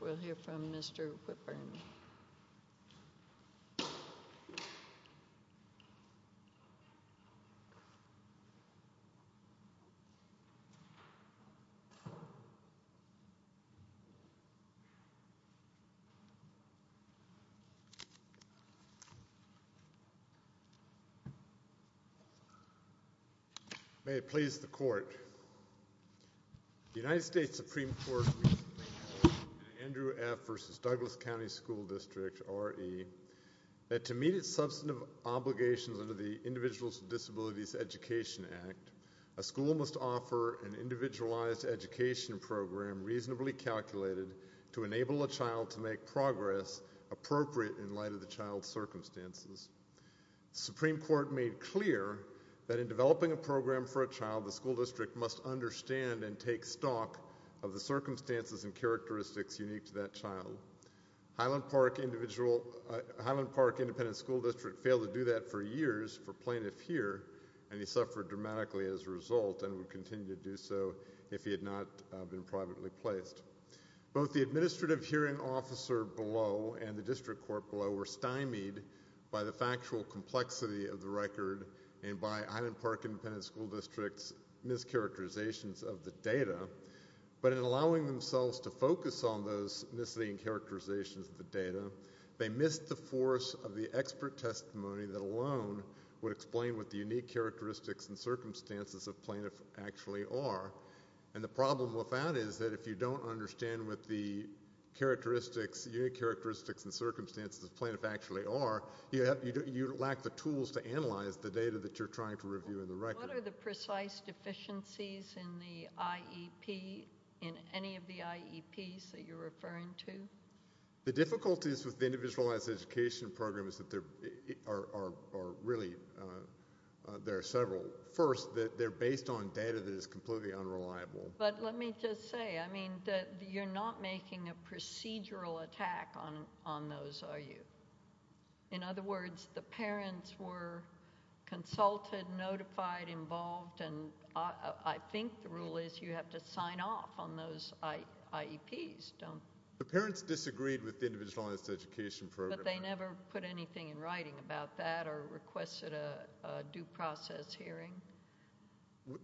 We'll hear from Mr. Whipburn. May it please the court, the United States Supreme Court, Andrew F. v. Douglas County School District, R.E., that to meet its substantive obligations under the Individuals with Disabilities Education Act, a school must offer an individualized education program reasonably calculated to enable a child to make progress appropriate in light of the child's circumstances. The Supreme Court made clear that in developing a program for a child, the school district must understand and take stock of the circumstances and characteristics unique to that child. Highland Park Independent School District failed to do that for years for plaintiff here, and he suffered dramatically as a result and would continue to do so if he had not been privately placed. Both the administrative hearing officer below and the district court below were stymied by the factual complexity of the record and by Highland Park Independent School District's mischaracterizations of the data, but in allowing themselves to focus on those misleading characterizations of the data, they missed the force of the expert testimony that alone would explain what the unique characteristics and circumstances of plaintiff actually are. And the problem with that is that if you don't understand what the unique characteristics and circumstances of plaintiff actually are, you lack the tools to analyze the data that you're trying to review in the record. What are the precise deficiencies in any of the IEPs that you're referring to? The difficulties with the individualized education program is that there are several. First, they're based on data that is completely unreliable. But let me just say, I mean, you're not making a procedural attack on those, are you? In other words, the parents were consulted, notified, involved, and I think the rule is you have to sign off on those IEPs, don't you? The parents disagreed with the individualized education program. But they never put anything in writing about that or requested a due process hearing?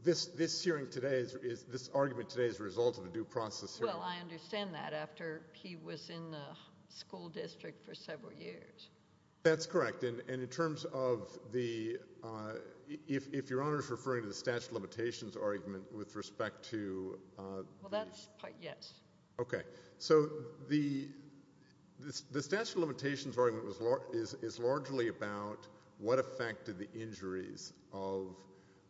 This hearing today is, this argument today is a result of a due process hearing. Well, I understand that after he was in the school district for several years. That's correct. And in terms of the, if Your Honor is referring to the statute of limitations argument with respect to... Well, that's part, yes. Okay. So the statute of limitations argument is largely about what effect did the injuries of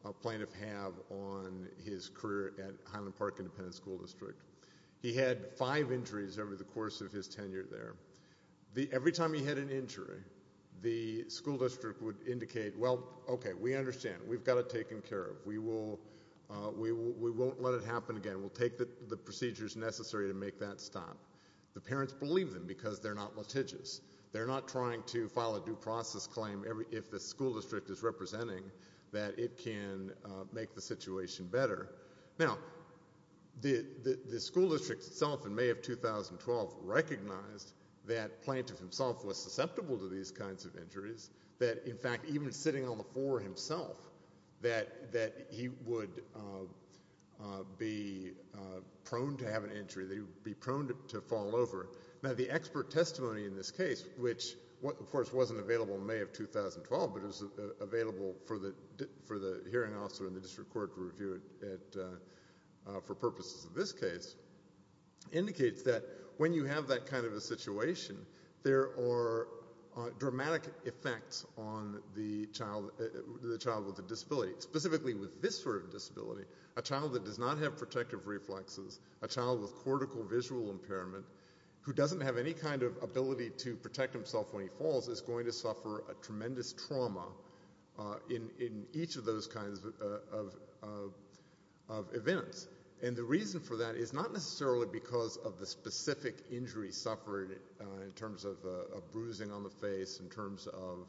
a plaintiff have on his career at Highland Park Independent School District. He had five injuries over the course of his tenure there. Every time he had an injury, the school district would indicate, well, okay, we understand. We've got it taken care of. We won't let it happen again. And we'll take the procedures necessary to make that stop. The parents believe them because they're not litigious. They're not trying to file a due process claim if the school district is representing that it can make the situation better. Now, the school district itself in May of 2012 recognized that Plaintiff himself was susceptible to these kinds of injuries, that in fact, even sitting on the floor himself, that he would be prone to have an injury, that he would be prone to fall over. Now, the expert testimony in this case, which, of course, wasn't available in May of 2012, but it was available for the hearing officer and the district court to review it for purposes of this case, indicates that when you have that kind of a situation, there are dramatic effects on the child with the disability, specifically with this sort of disability, a child that does not have protective reflexes, a child with cortical visual impairment who doesn't have any kind of ability to protect himself when he falls is going to suffer a tremendous trauma in each of those kinds of events. And the reason for that is not necessarily because of the specific injury suffered in terms of a bruising on the face, in terms of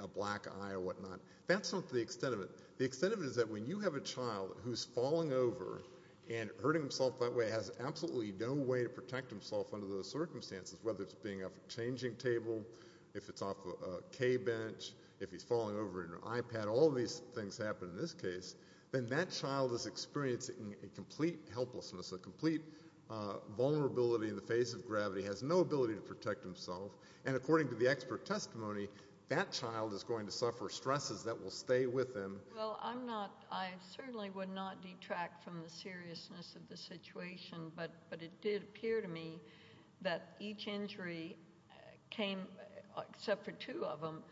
a black eye or whatnot. That's not the extent of it. The extent of it is that when you have a child who's falling over and hurting himself that way has absolutely no way to protect himself under those circumstances, whether it's being a changing table, if it's off a K-bench, if he's falling over in an iPad, all of these things happen in this case, then that child is experiencing a complete helplessness, a no ability to protect himself. And according to the expert testimony, that child is going to suffer stresses that will stay with him. Well, I'm not, I certainly would not detract from the seriousness of the situation, but it did appear to me that each injury came, except for two of them,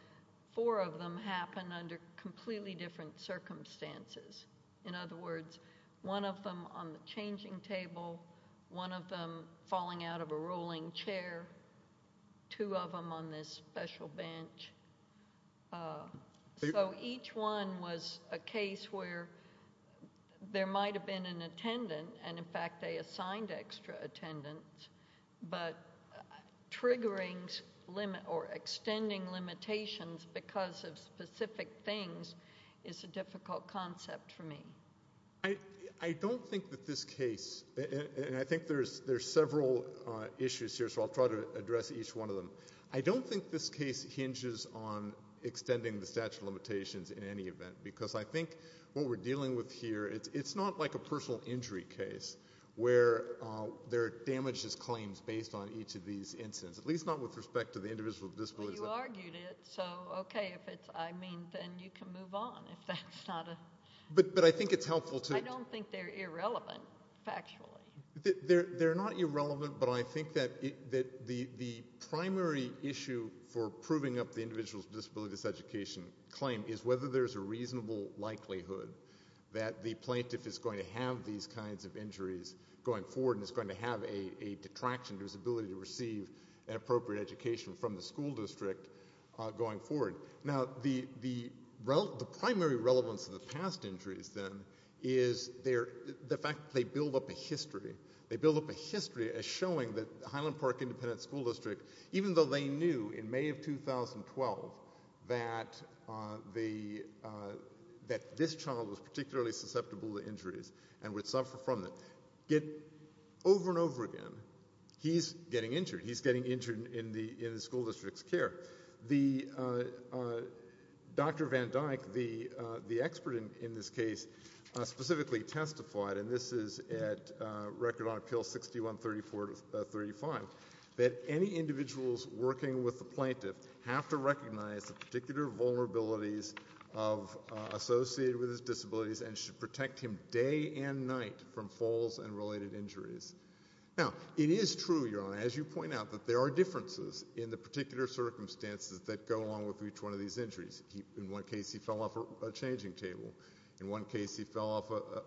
four of them happened under completely different circumstances. In other words, one of them on the changing table, one of them falling out of a rolling chair, two of them on this special bench. So each one was a case where there might have been an attendant, and in fact they assigned extra attendants, but triggering limit or extending limitations because of specific things is a difficult concept for me. I don't think that this case, and I think there's several issues here, so I'll try to address each one of them. I don't think this case hinges on extending the statute of limitations in any event, because I think what we're dealing with here, it's not like a personal injury case where there are damages claims based on each of these incidents, at least not with respect to the individual with disabilities. Well, you argued it, so okay, if it's, I mean, then you can move on if that's not a... But I think it's helpful to... I don't think they're irrelevant, factually. They're not irrelevant, but I think that the primary issue for proving up the individual's disability education claim is whether there's a reasonable likelihood that the plaintiff is going to have these kinds of injuries going forward and is going to have a detraction to his ability to receive an appropriate education from the school district going forward. Now, the primary relevance of the past injuries, then, is the fact that they build up a history. They build up a history as showing that Highland Park Independent School District, even though they knew in May of 2012 that this child was particularly susceptible to injuries and would suffer from them, over and over again, he's getting injured. He's getting injured in the school district's care. Dr. Van Dyck, the expert in this case, specifically testified, and this is at Record on Appeal 6134 to 6135, that any individuals working with the plaintiff have to recognize the particular vulnerabilities associated with his disabilities and should protect him day and night from falls and related injuries. Now, it is true, Your Honor, as you point out, that there are differences in the particular circumstances that go along with each one of these injuries. In one case, he fell off a changing table. In one case, he fell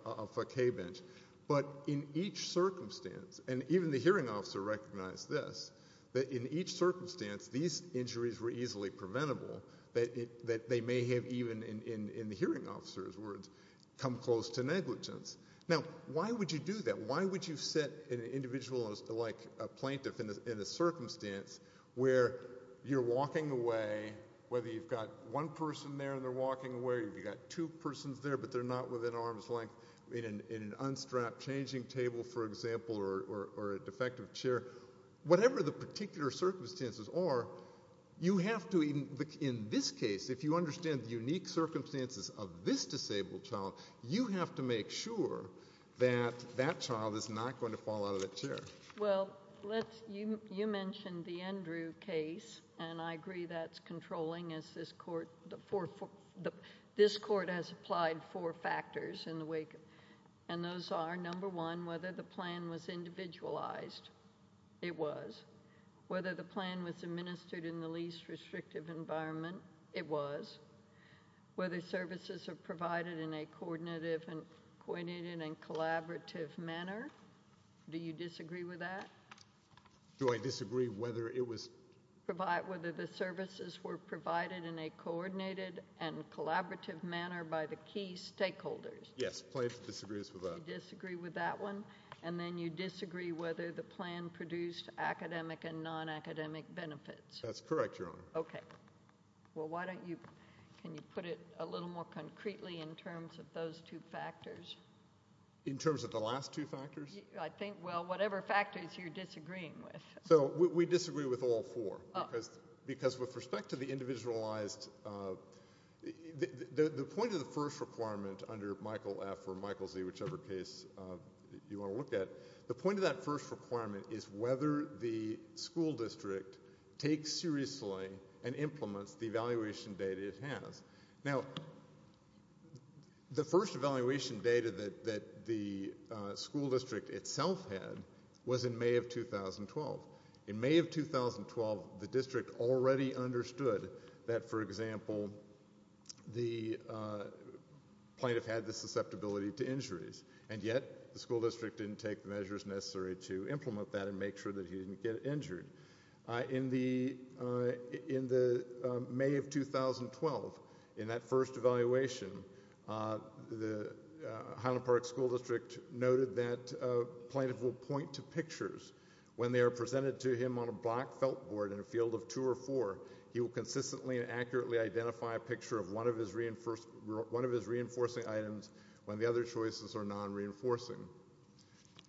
off a K-bench. But in each circumstance, and even the hearing officer recognized this, that in each circumstance, these injuries were easily preventable, that they may have even, in the hearing officer's words, come close to negligence. Now, why would you do that? Why would you sit an individual like a plaintiff in a circumstance where you're walking away, whether you've got one person there and they're walking away, you've got two persons there but they're not within arm's length in an unstrapped changing table, for example, or a defective chair, whatever the particular circumstances are, you have to, in this case, if you understand the unique circumstances of this disabled child, you have to make sure that that child is not going to fall out of the chair. Well, you mentioned the Andrew case, and I agree that's controlling, as this court has applied four factors, and those are, number one, whether the plan was individualized. It was. Whether the plan was administered in the least restrictive environment. It was. Whether services were provided in a coordinated and collaborative manner. Do you disagree with that? Do I disagree whether it was? Whether the services were provided in a coordinated and collaborative manner by the key stakeholders. Yes, plaintiff disagrees with that. You disagree with that one? And then you disagree whether the plan produced academic and non-academic benefits. That's correct, Your Honor. Okay. Well, why don't you, can you put it a little more concretely in terms of those two factors? In terms of the last two factors? I think, well, whatever factors you're disagreeing with. So, we disagree with all four, because with respect to the individualized, the point of the first requirement under Michael F. or Michael Z., whichever case you want to look at, the point of that first requirement is whether the school district takes seriously and implements the evaluation data it has. Now, the first evaluation data that the school district itself had was in May of 2012. In May of 2012, the district already understood that, for example, the plaintiff had the susceptibility to injuries, and yet the school district didn't take the measures necessary to implement that and make sure that he didn't get injured. In the May of 2012, in that first evaluation, the Highland Park School District noted that plaintiff will point to pictures when they are presented to him on a black felt board in a field of two or four. He will consistently and accurately identify a picture of one of his reinforcing items when the other choices are non-reinforcing.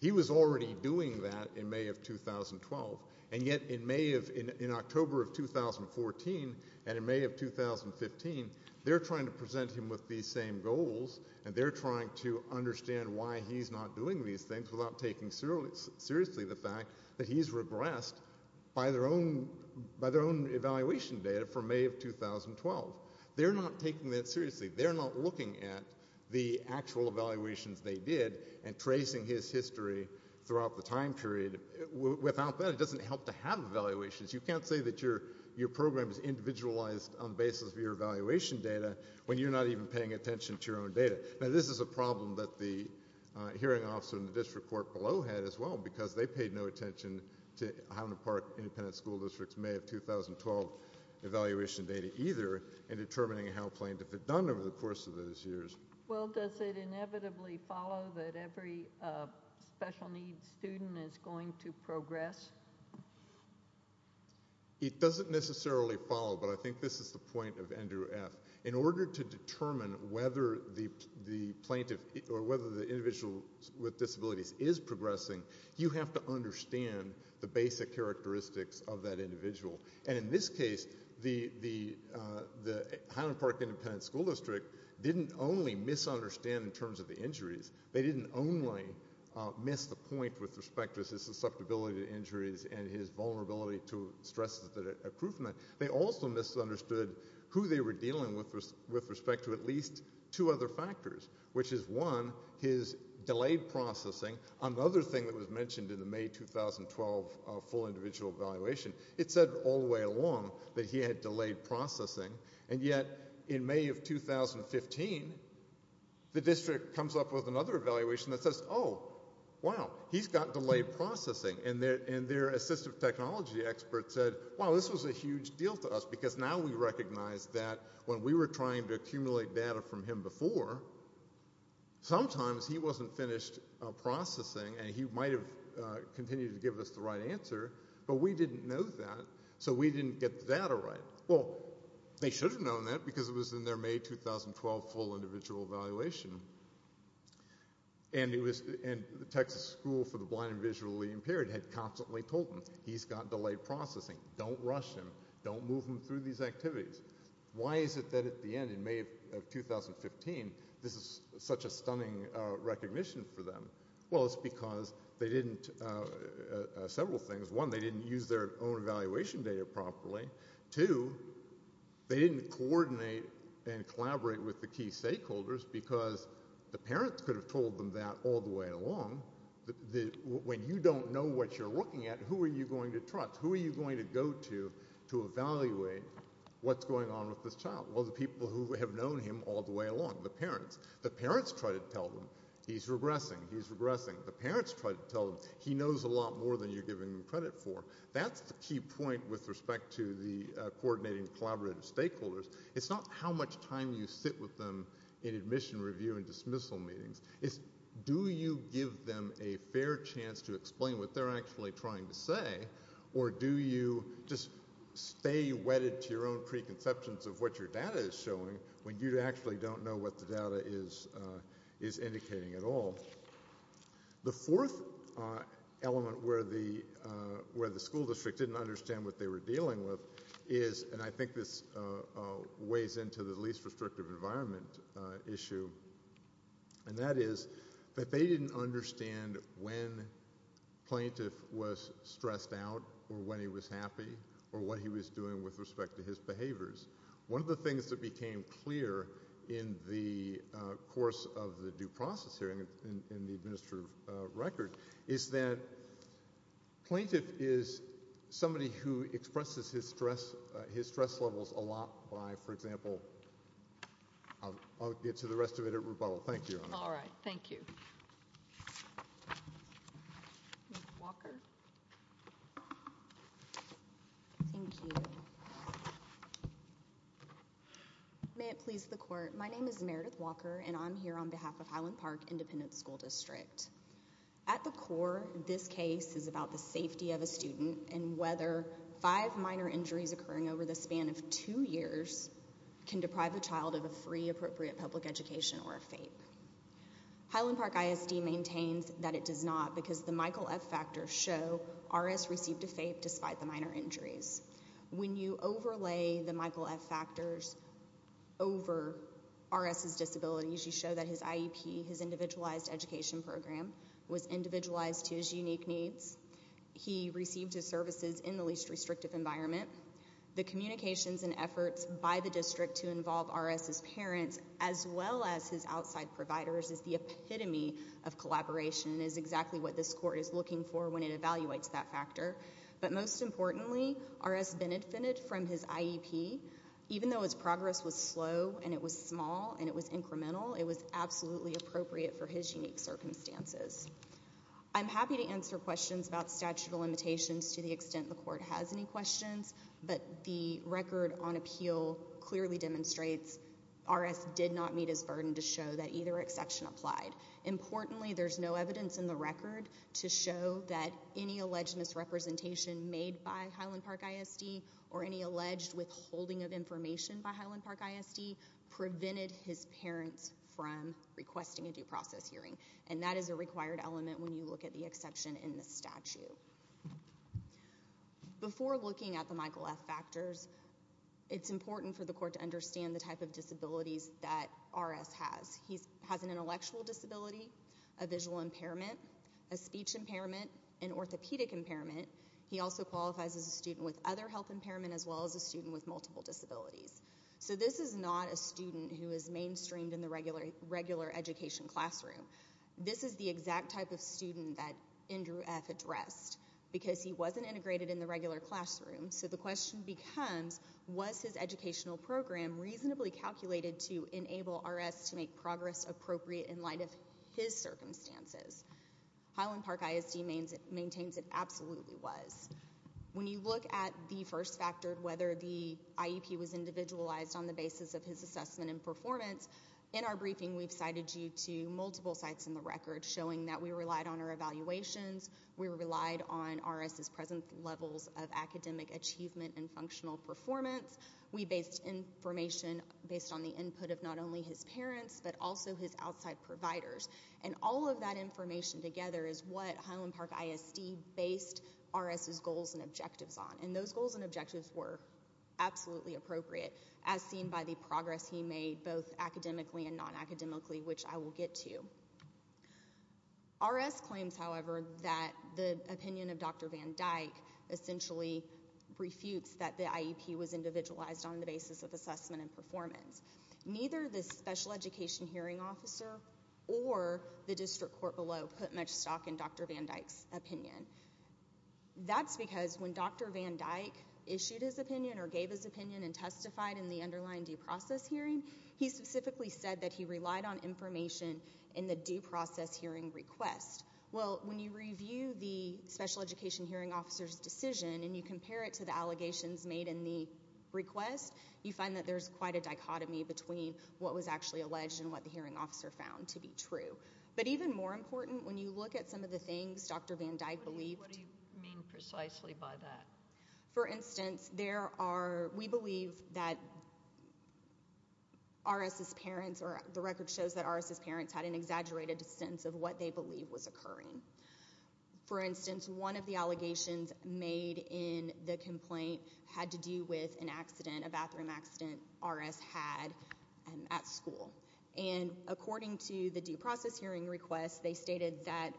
He was already doing that in May of 2012, and yet in October of 2014 and in May of 2015, they're trying to present him with these same goals, and they're trying to understand why he's not doing these things without taking seriously the fact that he's regressed by their own evaluation data from May of 2012. They're not taking that seriously. They're not looking at the actual evaluations they did and tracing his history throughout the time period. Without that, it doesn't help to have evaluations. You can't say that your program is individualized on the basis of your evaluation data when you're not even paying attention to your own data. Now, this is a problem that the hearing officer in the district court below had as well, because they paid no attention to Highland Park Independent School District's May of 2012 evaluation data either in determining how plaintiff had done over the course of those years. Well, does it inevitably follow that every special needs student is going to progress? It doesn't necessarily follow, but I think this is the point of Andrew F. In order to determine whether the plaintiff or whether the individual with disabilities is progressing, you have to understand the basic characteristics of that individual. And in this case, the Highland Park Independent School District didn't only misunderstand in terms of the injuries. They didn't only miss the point with respect to his susceptibility to injuries and his vulnerability to stress improvement. They also misunderstood who they were dealing with with respect to at least two other factors, which is, one, his delayed processing. Another thing that was mentioned in the May 2012 full individual evaluation, it said all the way along that he had delayed processing, and yet in May of 2015, the district comes up with another evaluation that says, oh, wow, he's got delayed processing. And their assistive technology expert said, wow, this was a huge deal to us, because now we recognize that when we were trying to accumulate data from him before, sometimes he wasn't finished processing and he might have continued to give us the right answer, but we didn't know that, so we didn't get the data right. Well, they should have known that, because it was in their May 2012 full individual evaluation. And the Texas School for the Blind and Visually Impaired had constantly told them, he's got delayed processing. Don't rush him. Don't move him through these activities. Why is it that at the end, in May of 2015, this is such a stunning recognition for them? Well, it's because they didn't, several things. One, they didn't use their own evaluation data properly. Two, they didn't coordinate and collaborate with the key stakeholders, because the parents could have told them that all the way along. When you don't know what you're looking at, who are you going to trust? Who are you going to go to to evaluate what's going on with this child? Well, the people who have known him all the way along, the parents. The parents try to tell him, he's regressing, he's regressing. The parents try to tell him, he knows a lot more than you're giving him credit for. That's the key point with respect to the coordinating collaborative stakeholders. It's not how much time you sit with them in admission review and dismissal meetings. It's do you give them a fair chance to explain what they're actually trying to say, or do you just stay wedded to your own preconceptions of what your data is showing when you actually don't know what the data is indicating at all? The fourth element where the school district didn't understand what they were dealing with is, and I think this weighs into the least restrictive environment issue, and that is that they didn't understand when plaintiff was stressed out or when he was happy or what he was doing with respect to his behaviors. One of the things that became clear in the course of the due process hearing in the administrative record is that plaintiff is somebody who expresses his stress levels a lot by, for example, I'll get to the rest of it at rebuttal. Thank you. All right. Thank you. May it please the court, my name is Meredith Walker and I'm here on behalf of Highland Park Independent School District. At the core, this case is about the safety of a student and whether five minor injuries occurring over the span of two years can deprive a child of a free appropriate public education or a FAPE. Highland Park ISD maintains that it does not because the Michael F factors show RS received a FAPE despite the minor injuries. When you overlay the Michael F factors over RS's disabilities, you show that his IEP, his individualized education program, was individualized to his unique needs. He received his services in the least restrictive environment. The communications and efforts by the district to involve RS's parents as well as his outside providers is the epitome of collaboration and is exactly what this court is looking for when it evaluates that factor. But most importantly, RS benefited from his IEP. Even though his progress was slow and it was small and it was incremental, it was absolutely appropriate for his unique circumstances. I'm happy to answer questions about statute of limitations to the extent the court has any questions, but the record on appeal clearly demonstrates RS did not meet his burden to either exception applied. Importantly, there's no evidence in the record to show that any alleged misrepresentation made by Highland Park ISD or any alleged withholding of information by Highland Park ISD prevented his parents from requesting a due process hearing. And that is a required element when you look at the exception in the statute. Before looking at the Michael F factors, it's important for the court to understand the type of disabilities that RS has. He has an intellectual disability, a visual impairment, a speech impairment, an orthopedic impairment. He also qualifies as a student with other health impairment as well as a student with multiple disabilities. So this is not a student who is mainstreamed in the regular education classroom. This is the exact type of student that Andrew F addressed because he wasn't integrated in the regular classroom. So the question becomes, was his educational program reasonably calculated to enable RS to make progress appropriate in light of his circumstances? Highland Park ISD maintains it absolutely was. When you look at the first factor, whether the IEP was individualized on the basis of his assessment and performance, in our briefing we've cited you to multiple sites in the record showing that we relied on our evaluations. We relied on RS's present levels of academic achievement and functional performance. We based information based on the input of not only his parents but also his outside providers. And all of that information together is what Highland Park ISD based RS's goals and objectives on. And those goals and objectives were absolutely appropriate as seen by the progress he made both academically and non-academically, which I will get to. RS claims, however, that the opinion of Dr. Van Dyke essentially refutes that the IEP was individualized on the basis of assessment and performance. Neither the special education hearing officer or the district court below put much stock in Dr. Van Dyke's opinion. That's because when Dr. Van Dyke issued his opinion or gave his opinion and testified in the underlying due process hearing, he specifically said that he relied on information in the due process hearing request. Well, when you review the special education hearing officer's decision and you compare it to the allegations made in the request, you find that there's quite a dichotomy between what was actually alleged and what the hearing officer found to be true. But even more important, when you look at some of the things Dr. Van Dyke believed... What do you mean precisely by that? For instance, there are... We believe that RS's parents or the record shows that RS's parents had an exaggerated sense of what they believed was occurring. For instance, one of the allegations made in the complaint had to do with an accident, a bathroom accident RS had at school. And according to the due process hearing request, they stated that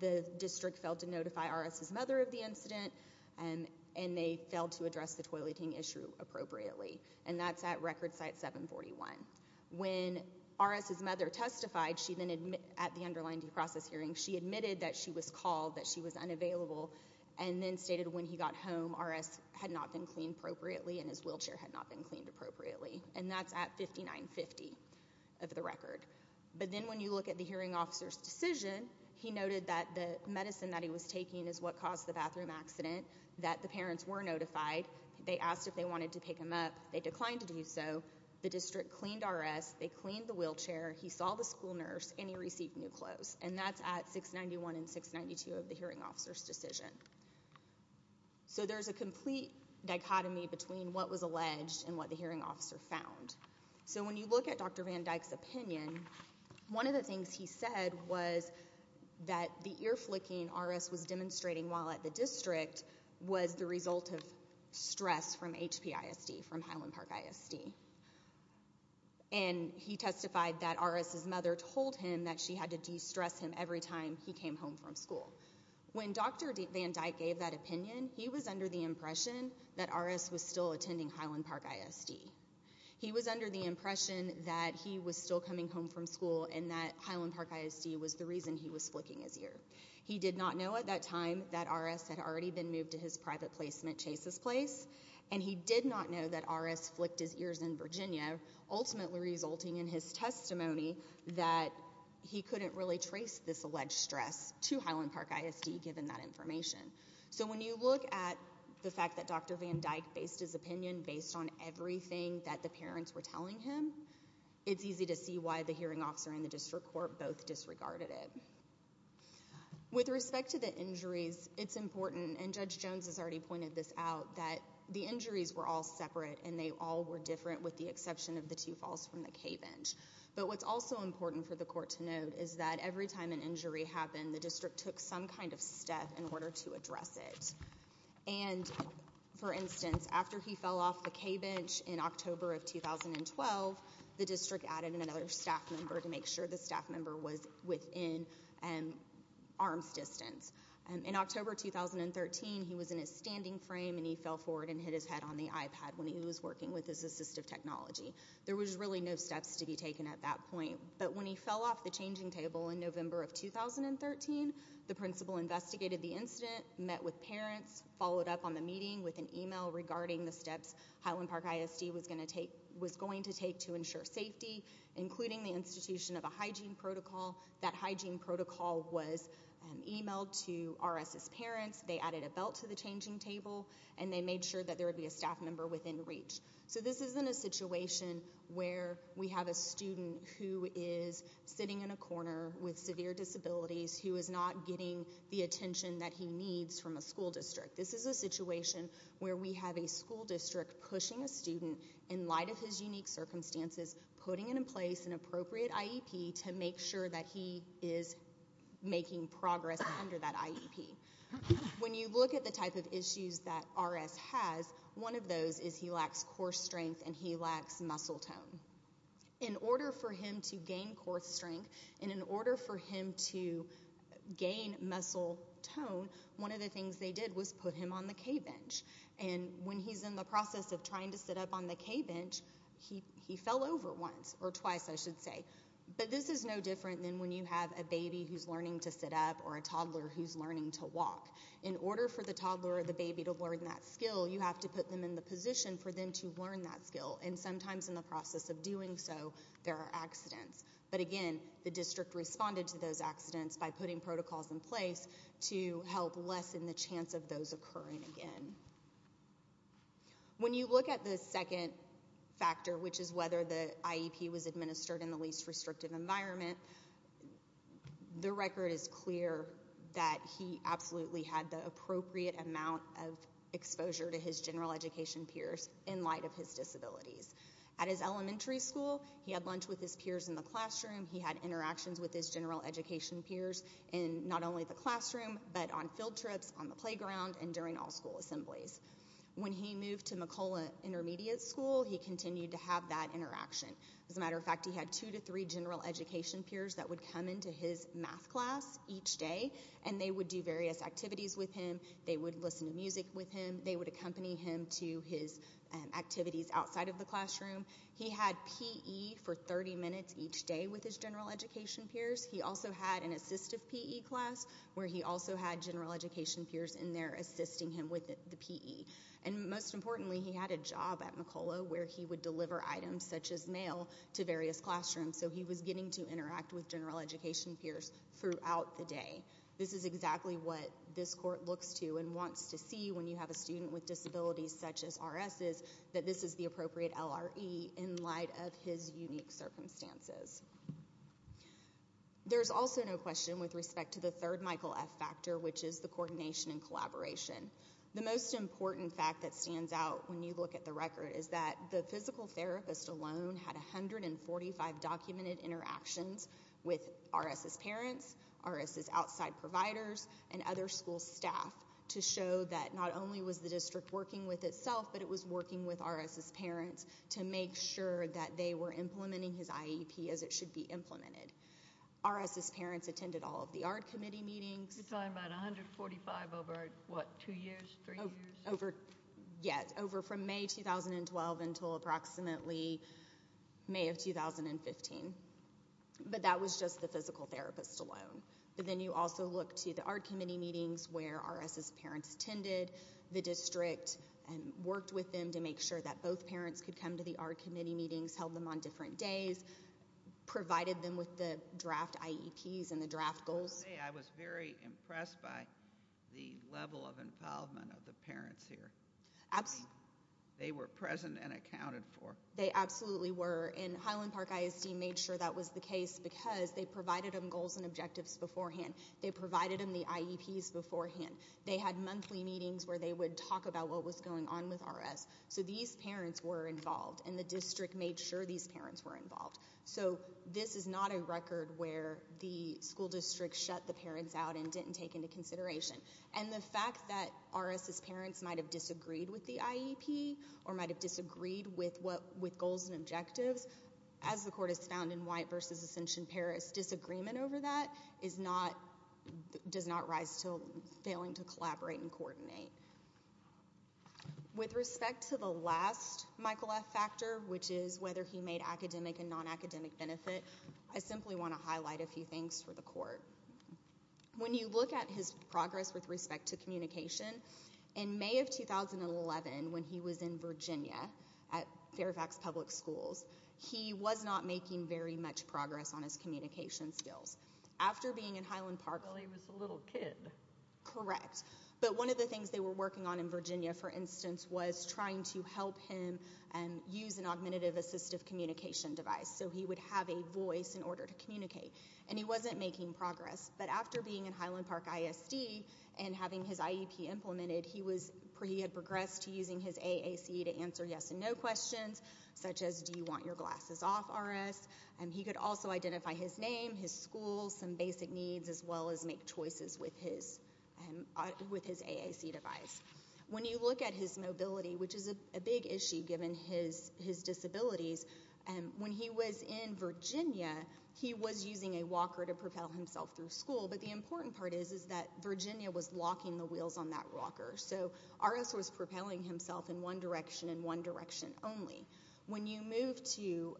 the district failed to notify RS's mother of the incident and they failed to address the toileting issue appropriately. And that's at record site 741. When RS's mother testified at the underlying due process hearing, she admitted that she was called, that she was unavailable, and then stated when he got home, RS had not been cleaned appropriately and his wheelchair had not been cleaned appropriately. And that's at 5950 of the record. But then when you look at the hearing officer's decision, he noted that the medicine that he was taking is what caused the bathroom accident, that the parents were notified. They asked if they wanted to pick him up. They declined to do so. The district cleaned RS, they cleaned the wheelchair, he saw the school nurse, and he received new clothes. And that's at 691 and 692 of the hearing officer's decision. So there's a complete dichotomy between what was alleged and what the hearing officer found. So when you look at Dr. Van Dyke's opinion, one of the things he said was that the ear flicking RS was demonstrating while at the district was the result of stress from HPISD, and he testified that RS's mother told him that she had to de-stress him every time he came home from school. When Dr. Van Dyke gave that opinion, he was under the impression that RS was still attending Highland Park ISD. He was under the impression that he was still coming home from school and that Highland Park ISD was the reason he was flicking his ear. He did not know at that time that RS had already been moved to his private placement, Chase's did not know that RS flicked his ears in Virginia, ultimately resulting in his testimony that he couldn't really trace this alleged stress to Highland Park ISD given that information. So when you look at the fact that Dr. Van Dyke based his opinion based on everything that the parents were telling him, it's easy to see why the hearing officer and the district court both disregarded it. With respect to the injuries, it's important, and Judge Jones has already pointed this out, that the injuries were all separate and they all were different with the exception of the two falls from the K-Bench. But what's also important for the court to note is that every time an injury happened, the district took some kind of step in order to address it. For instance, after he fell off the K-Bench in October of 2012, the district added another staff member to make sure the staff member was within arm's distance. In October 2013, he was in a standing frame and he fell forward and hit his head on the iPad when he was working with his assistive technology. There was really no steps to be taken at that point. But when he fell off the changing table in November of 2013, the principal investigated the incident, met with parents, followed up on the meeting with an email regarding the steps Highland Park ISD was going to take to ensure safety, including the institution of a hygiene protocol. That hygiene protocol was emailed to RS's parents, they added a belt to the changing table, and they made sure that there would be a staff member within reach. So this isn't a situation where we have a student who is sitting in a corner with severe disabilities who is not getting the attention that he needs from a school district. This is a situation where we have a school district pushing a student in light of his unique circumstances, putting in place an appropriate IEP to make sure that he is making progress under that IEP. When you look at the type of issues that RS has, one of those is he lacks core strength and he lacks muscle tone. In order for him to gain core strength and in order for him to gain muscle tone, one of the things they did was put him on the K-bench. When he's in the process of trying to sit up on the K-bench, he fell over once, or twice I should say. But this is no different than when you have a baby who's learning to sit up or a toddler who's learning to walk. In order for the toddler or the baby to learn that skill, you have to put them in the position for them to learn that skill. Sometimes in the process of doing so, there are accidents. But again, the district responded to those accidents by putting protocols in place to help lessen the chance of those occurring again. When you look at the second factor, which is whether the IEP was administered in the least restrictive environment, the record is clear that he absolutely had the appropriate amount of exposure to his general education peers in light of his disabilities. At his elementary school, he had lunch with his peers in the classroom. He had interactions with his general education peers in not only the classroom, but on field trips, on the playground, and during all school assemblies. When he moved to McCullough Intermediate School, he continued to have that interaction. As a matter of fact, he had two to three general education peers that would come into his math class each day, and they would do various activities with him. They would listen to music with him. They would accompany him to his activities outside of the classroom. He had P.E. for 30 minutes each day with his general education peers. He also had an assistive P.E. class where he also had general education peers in there assisting him with the P.E. And most importantly, he had a job at McCullough where he would deliver items such as mail to various classrooms. So he was getting to interact with general education peers throughout the day. This is exactly what this court looks to and wants to see when you have a student with his unique circumstances. There's also no question with respect to the third Michael F. factor, which is the coordination and collaboration. The most important fact that stands out when you look at the record is that the physical therapist alone had 145 documented interactions with R.S.'s parents, R.S.'s outside providers, and other school staff to show that not only was the district working with itself, but it was working with R.S.'s parents to make sure that they were implementing his IEP as it should be implemented. R.S.'s parents attended all of the ARD committee meetings. You're talking about 145 over what, two years, three years? Yes, over from May 2012 until approximately May of 2015. But that was just the physical therapist alone. But then you also look to the ARD committee meetings where R.S.'s parents attended the meetings with them to make sure that both parents could come to the ARD committee meetings, held them on different days, provided them with the draft IEPs and the draft goals. I was very impressed by the level of involvement of the parents here. They were present and accounted for. They absolutely were, and Highland Park ISD made sure that was the case because they provided them goals and objectives beforehand. They provided them the IEPs beforehand. They had monthly meetings where they would talk about what was going on with R.S. So these parents were involved, and the district made sure these parents were involved. So this is not a record where the school district shut the parents out and didn't take into consideration. And the fact that R.S.'s parents might have disagreed with the IEP or might have disagreed with goals and objectives, as the court has found in White v. Ascension Paris, disagreement over that does not rise to failing to collaborate and coordinate. With respect to the last Michael F. factor, which is whether he made academic and non-academic benefit, I simply want to highlight a few things for the court. When you look at his progress with respect to communication, in May of 2011, when he was in Virginia at Fairfax Public Schools, he was not making very much progress on his communication skills. After being in Highland Park... Well, he was a little kid. Correct. But one of the things they were working on in Virginia, for instance, was trying to help him use an augmentative assistive communication device so he would have a voice in order to communicate. And he wasn't making progress. But after being in Highland Park ISD and having his IEP implemented, he had progressed to using his AAC to answer yes and no questions, such as, do you want your glasses off, RS? He could also identify his name, his school, some basic needs, as well as make choices with his AAC device. When you look at his mobility, which is a big issue given his disabilities, when he was in Virginia, he was using a walker to propel himself through school. But the important part is that Virginia was locking the wheels on that walker. So RS was propelling himself in one direction and one direction only. When you move to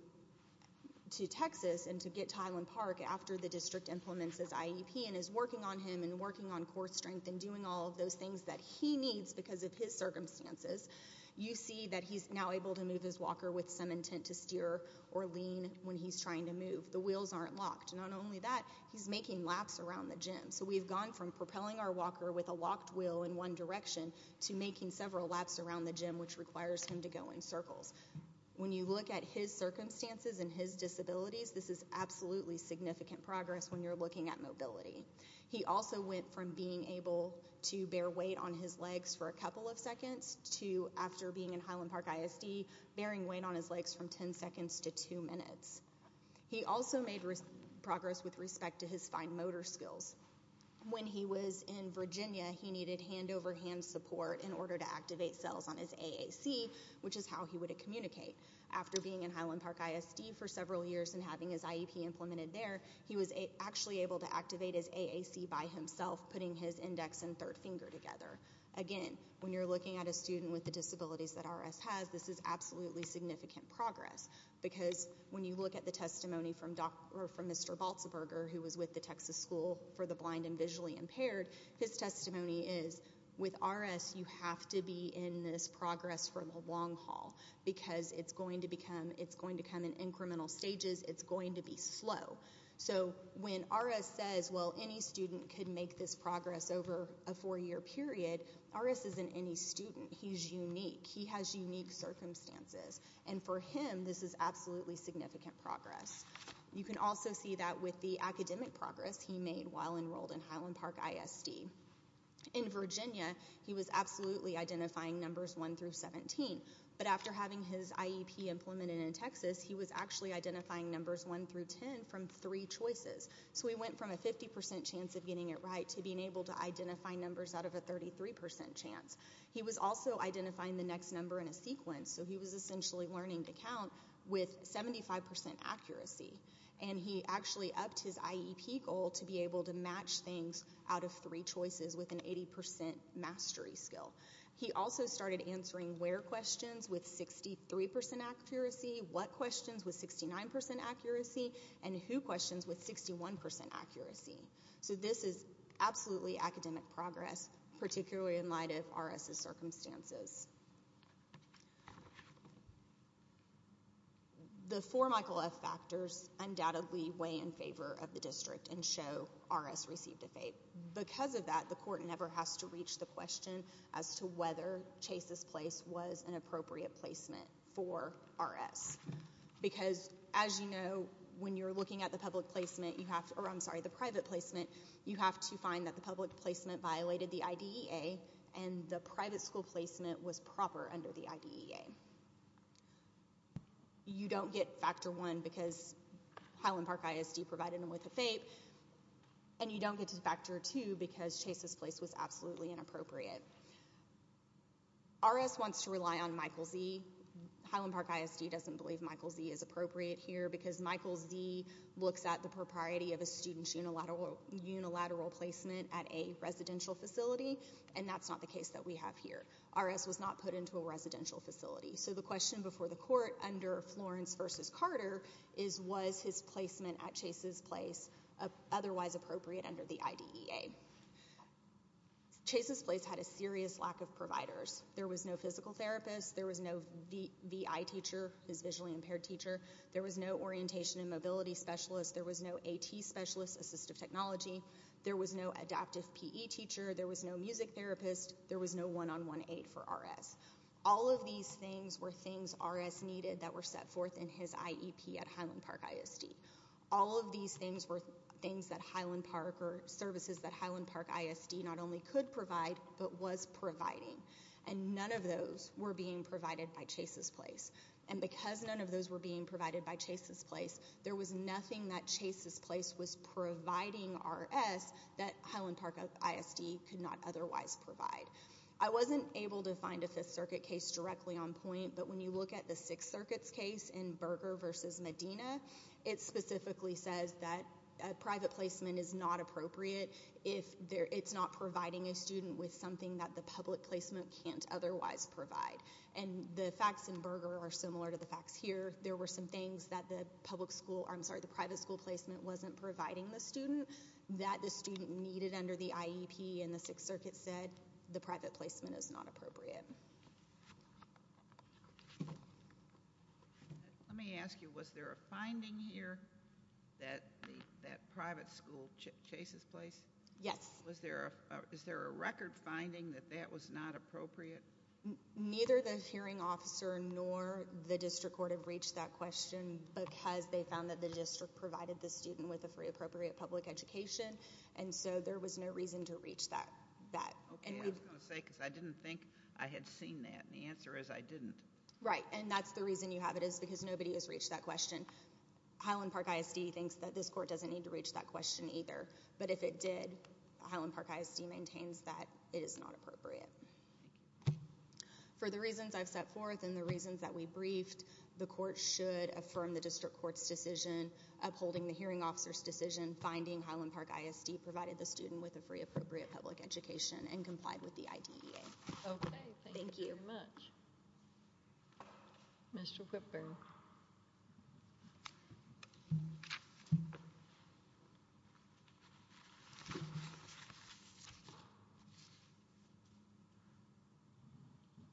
Texas and to get to Highland Park after the district implements his IEP and is working on him and working on core strength and doing all of those things that he needs because of his circumstances, you see that he's now able to move his walker with some intent to steer or lean when he's trying to move. The wheels aren't locked. Not only that, he's making laps around the gym. So we've gone from propelling our walker with a locked wheel in one direction to making several laps around the gym, which requires him to go in circles. When you look at his circumstances and his disabilities, this is absolutely significant progress when you're looking at mobility. He also went from being able to bear weight on his legs for a couple of seconds to, after being in Highland Park ISD, bearing weight on his legs from 10 seconds to 2 minutes. He also made progress with respect to his fine motor skills. When he was in Virginia, he needed hand-over-hand support in order to activate cells on his AAC, which is how he would communicate. After being in Highland Park ISD for several years and having his IEP implemented there, he was actually able to activate his AAC by himself, putting his index and third finger together. Again, when you're looking at a student with the disabilities that RS has, this is absolutely significant progress because when you look at the testimony from Mr. Balzberger, who was with the Texas School for the Blind and Visually Impaired, his testimony is, with RS, you have to be in this progress for the long haul because it's going to come in incremental stages. It's going to be slow. So when RS says, well, any student could make this progress over a four-year period, RS isn't any student. He's unique. He has unique circumstances, and for him, this is absolutely significant progress. You can also see that with the academic progress he made while enrolled in Highland Park ISD. In Virginia, he was absolutely identifying numbers 1 through 17, but after having his IEP implemented in Texas, he was actually identifying numbers 1 through 10 from three choices. So he went from a 50% chance of getting it right to being able to identify numbers out of a 33% chance. He was also identifying the next number in a sequence. So he was essentially learning to count with 75% accuracy, and he actually upped his IEP goal to be able to match things out of three choices with an 80% mastery skill. He also started answering where questions with 63% accuracy, what questions with 69% accuracy, and who questions with 61% accuracy. So this is absolutely academic progress, particularly in light of RS's circumstances. The four Michael F. factors undoubtedly weigh in favor of the district and show RS received a FAPE. Because of that, the court never has to reach the question as to whether Chase's place was an appropriate placement for RS. Because, as you know, when you're looking at the private placement, you have to find that the public placement violated the IDEA, and the private school placement was proper under the IDEA. You don't get factor 1 because Highland Park ISD provided him with a FAPE, and you don't get factor 2 because Chase's place was absolutely inappropriate. RS wants to rely on Michael Z. Highland Park ISD doesn't believe Michael Z is appropriate here because Michael Z looks at the propriety of a student's unilateral placement at a residential facility, and that's not the case that we have here. RS was not put into a residential facility. So the question before the court under Florence v. Carter is, was his placement at Chase's place otherwise appropriate under the IDEA? Chase's place had a serious lack of providers. There was no physical therapist. There was no VI teacher, his visually impaired teacher. There was no orientation and mobility specialist. There was no AT specialist, assistive technology. There was no adaptive PE teacher. There was no music therapist. There was no one-on-one aid for RS. All of these things were things RS needed that were set forth in his IEP at Highland Park ISD. All of these things were services that Highland Park ISD not only could provide but was providing, and none of those were being provided by Chase's place. And because none of those were being provided by Chase's place, there was nothing that Chase's place was providing RS that Highland Park ISD could not otherwise provide. I wasn't able to find a Fifth Circuit case directly on point, but when you look at the Sixth Circuit's case in Berger v. Medina, it specifically says that private placement is not appropriate if it's not providing a student with something that the public placement can't otherwise provide. And the facts in Berger are similar to the facts here. There were some things that the private school placement wasn't providing the student, that the student needed under the IEP, and the Sixth Circuit said the private placement is not appropriate. Let me ask you, was there a finding here that private school Chase's place? Yes. Is there a record finding that that was not appropriate? Neither the hearing officer nor the district court have reached that question because they found that the district provided the student with a free appropriate public education, and so there was no reason to reach that. Okay, I was going to say because I didn't think I had seen that, and the answer is I didn't. Right, and that's the reason you have it is because nobody has reached that question. Highland Park ISD thinks that this court doesn't need to reach that question either, but if it did, Highland Park ISD maintains that it is not appropriate. For the reasons I've set forth and the reasons that we briefed, the court should affirm the district court's decision upholding the hearing officer's decision, finding Highland Park ISD provided the student with a free appropriate public education and complied with the IDEA. Okay, thank you very much. Mr. Whitburn.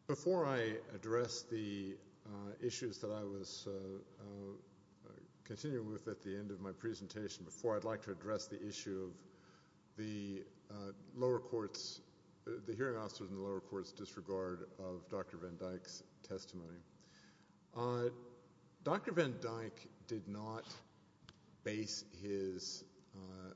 Before I address the issues that I was continuing with at the end of my presentation, before I'd like to address the issue of the lower court's, the hearing officer's and the lower court's disregard of Dr. Van Dyck's testimony. Dr. Van Dyck did not base his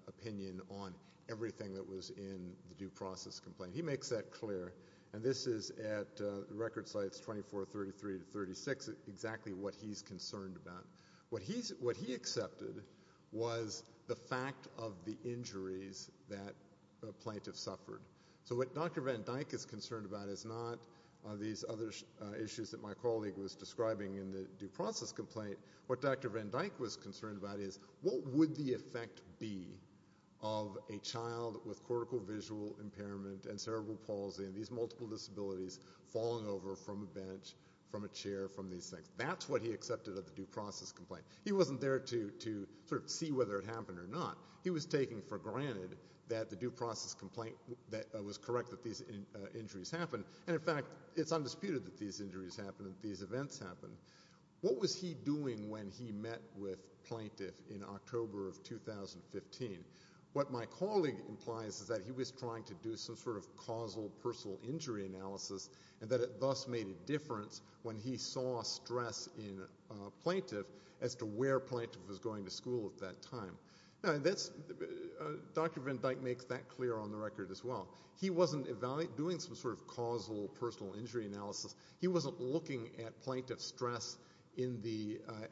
opinion on everything that was in the due process complaint. He makes that clear, and this is at record sites 24, 33 to 36, exactly what he's concerned about. What he accepted was the fact of the injuries that the plaintiff suffered. So what Dr. Van Dyck is concerned about is not these other issues that my colleague was describing in the due process complaint. What Dr. Van Dyck was concerned about is what would the effect be of a child with cortical visual impairment and cerebral palsy and these multiple disabilities falling over from a bench, from a chair, from these things. That's what he accepted of the due process complaint. He wasn't there to sort of see whether it happened or not. He was taking for granted that the due process complaint was correct that these injuries happened, and, in fact, it's undisputed that these injuries happened and these events happened. What was he doing when he met with plaintiff in October of 2015? What my colleague implies is that he was trying to do some sort of causal personal injury analysis and that it thus made a difference when he saw stress in plaintiff as to where plaintiff was going to school at that time. Dr. Van Dyck makes that clear on the record as well. He wasn't doing some sort of causal personal injury analysis. He wasn't looking at plaintiff's stress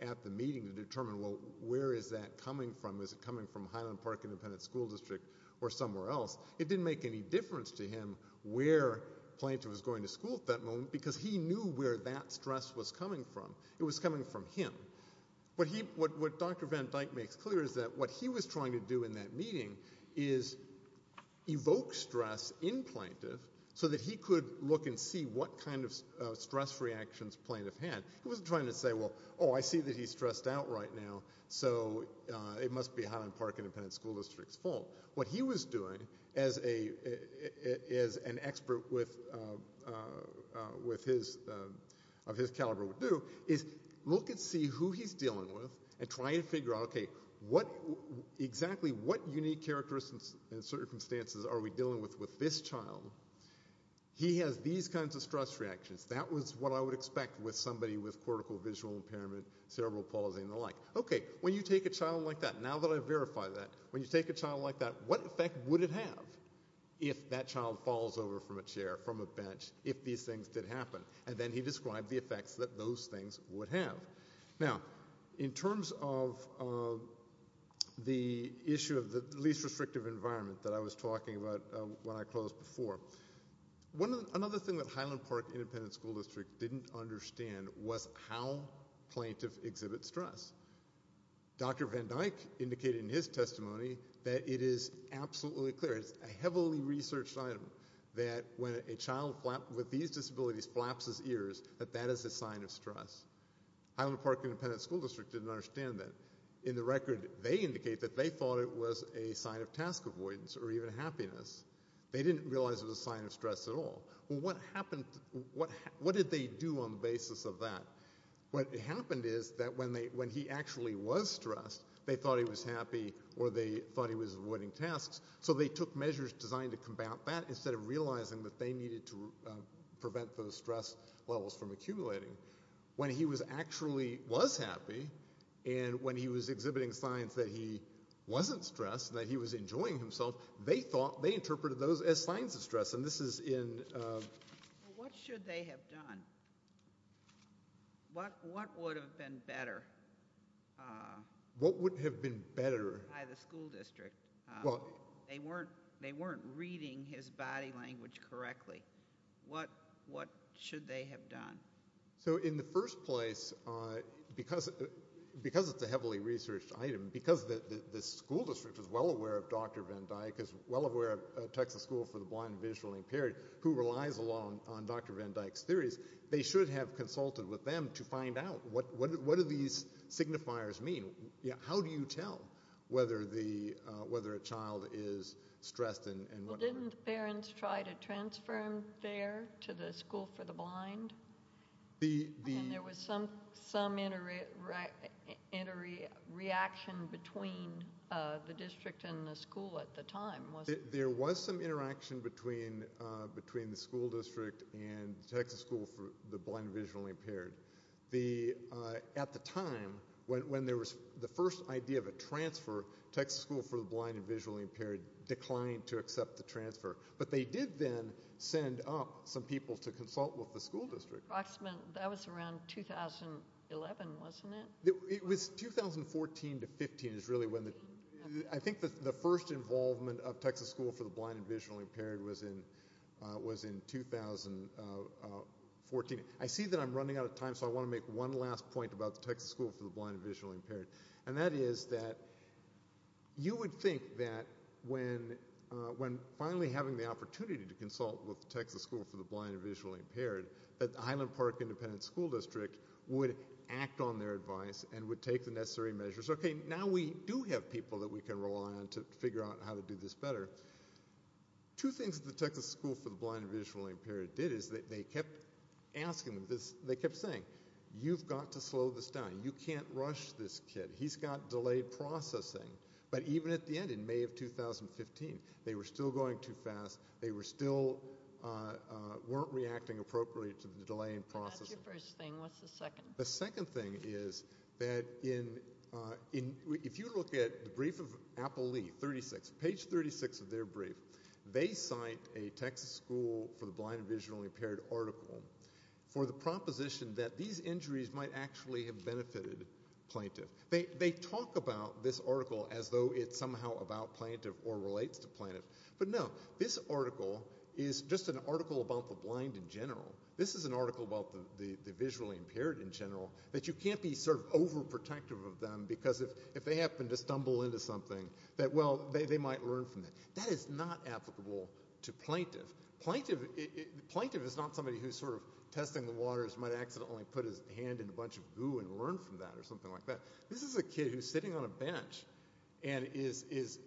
at the meeting to determine, well, where is that coming from? Is it coming from Highland Park Independent School District or somewhere else? It didn't make any difference to him where plaintiff was going to school at that moment because he knew where that stress was coming from. It was coming from him. What Dr. Van Dyck makes clear is that what he was trying to do in that meeting is evoke stress in plaintiff so that he could look and see what kind of stress reactions plaintiff had. He wasn't trying to say, well, oh, I see that he's stressed out right now, so it must be Highland Park Independent School District's fault. What he was doing as an expert of his caliber would do is look and see who he's dealing with and try to figure out, okay, exactly what unique characteristics and circumstances are we dealing with with this child? He has these kinds of stress reactions. That was what I would expect with somebody with cortical visual impairment, cerebral palsy, and the like. Okay, when you take a child like that, now that I've verified that, when you take a child like that, what effect would it have if that child falls over from a chair, from a bench, if these things did happen? And then he described the effects that those things would have. Now, in terms of the issue of the least restrictive environment that I was talking about when I closed before, another thing that Highland Park Independent School District didn't understand was how plaintiff exhibits stress. Dr. Van Dyke indicated in his testimony that it is absolutely clear, it's a heavily researched item, that when a child with these disabilities flaps his ears, that that is a sign of stress. Highland Park Independent School District didn't understand that. In the record, they indicate that they thought it was a sign of task avoidance or even happiness. They didn't realize it was a sign of stress at all. Well, what did they do on the basis of that? What happened is that when he actually was stressed, they thought he was happy or they thought he was avoiding tasks, so they took measures designed to combat that instead of realizing that they needed to prevent those stress levels from accumulating. When he actually was happy and when he was exhibiting signs that he wasn't stressed, that he was enjoying himself, they interpreted those as signs of stress. What should they have done? What would have been better? What would have been better? By the school district. They weren't reading his body language correctly. What should they have done? So in the first place, because it's a heavily researched item, because the school district is well aware of Dr. Van Dyck, is well aware of Texas School for the Blind and Visually Impaired, who relies a lot on Dr. Van Dyck's theories, they should have consulted with them to find out what do these signifiers mean. How do you tell whether a child is stressed? Well, didn't the parents try to transfer him there to the school for the blind? There was some interaction between the district and the school at the time, wasn't there? There was some interaction between the school district and Texas School for the Blind and Visually Impaired. At the time, when there was the first idea of a transfer, Texas School for the Blind and Visually Impaired declined to accept the transfer. But they did then send up some people to consult with the school district. That was around 2011, wasn't it? It was 2014 to 2015 is really when the – I think the first involvement of Texas School for the Blind and Visually Impaired was in 2014. I see that I'm running out of time, so I want to make one last point about Texas School for the Blind and Visually Impaired. And that is that you would think that when finally having the opportunity to consult with Texas School for the Blind and Visually Impaired, that the Highland Park Independent School District would act on their advice and would take the necessary measures. Okay, now we do have people that we can rely on to figure out how to do this better. Two things that the Texas School for the Blind and Visually Impaired did is that they kept asking, they kept saying, you've got to slow this down. You can't rush this kid. He's got delayed processing. But even at the end, in May of 2015, they were still going too fast. They were still – weren't reacting appropriately to the delay in processing. That's your first thing. What's the second? The second thing is that in – if you look at the brief of Apple Leaf, 36, page 36 of their brief, they cite a Texas School for the Blind and Visually Impaired article for the proposition that these injuries might actually have benefited plaintiff. They talk about this article as though it's somehow about plaintiff or relates to plaintiff. But no, this article is just an article about the blind in general. This is an article about the visually impaired in general, that you can't be sort of overprotective of them because if they happen to stumble into something, that, well, they might learn from it. That is not applicable to plaintiff. Plaintiff is not somebody who's sort of testing the waters, might accidentally put his hand in a bunch of goo and learn from that or something like that. This is a kid who's sitting on a bench and is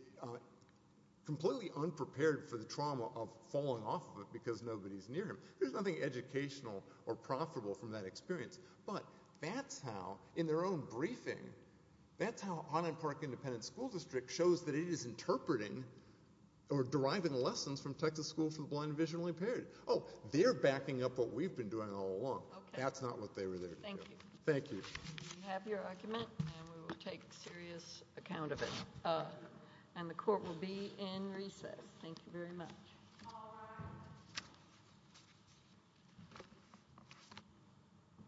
completely unprepared for the trauma of falling off of it because nobody's near him. There's nothing educational or profitable from that experience. But that's how, in their own briefing, that's how Highland Park Independent School District shows that it is interpreting or deriving lessons from Texas School for the Blind and Visually Impaired. Oh, they're backing up what we've been doing all along. That's not what they were there to do. Thank you. We have your argument and we will take serious account of it. And the court will be in recess. Thank you very much.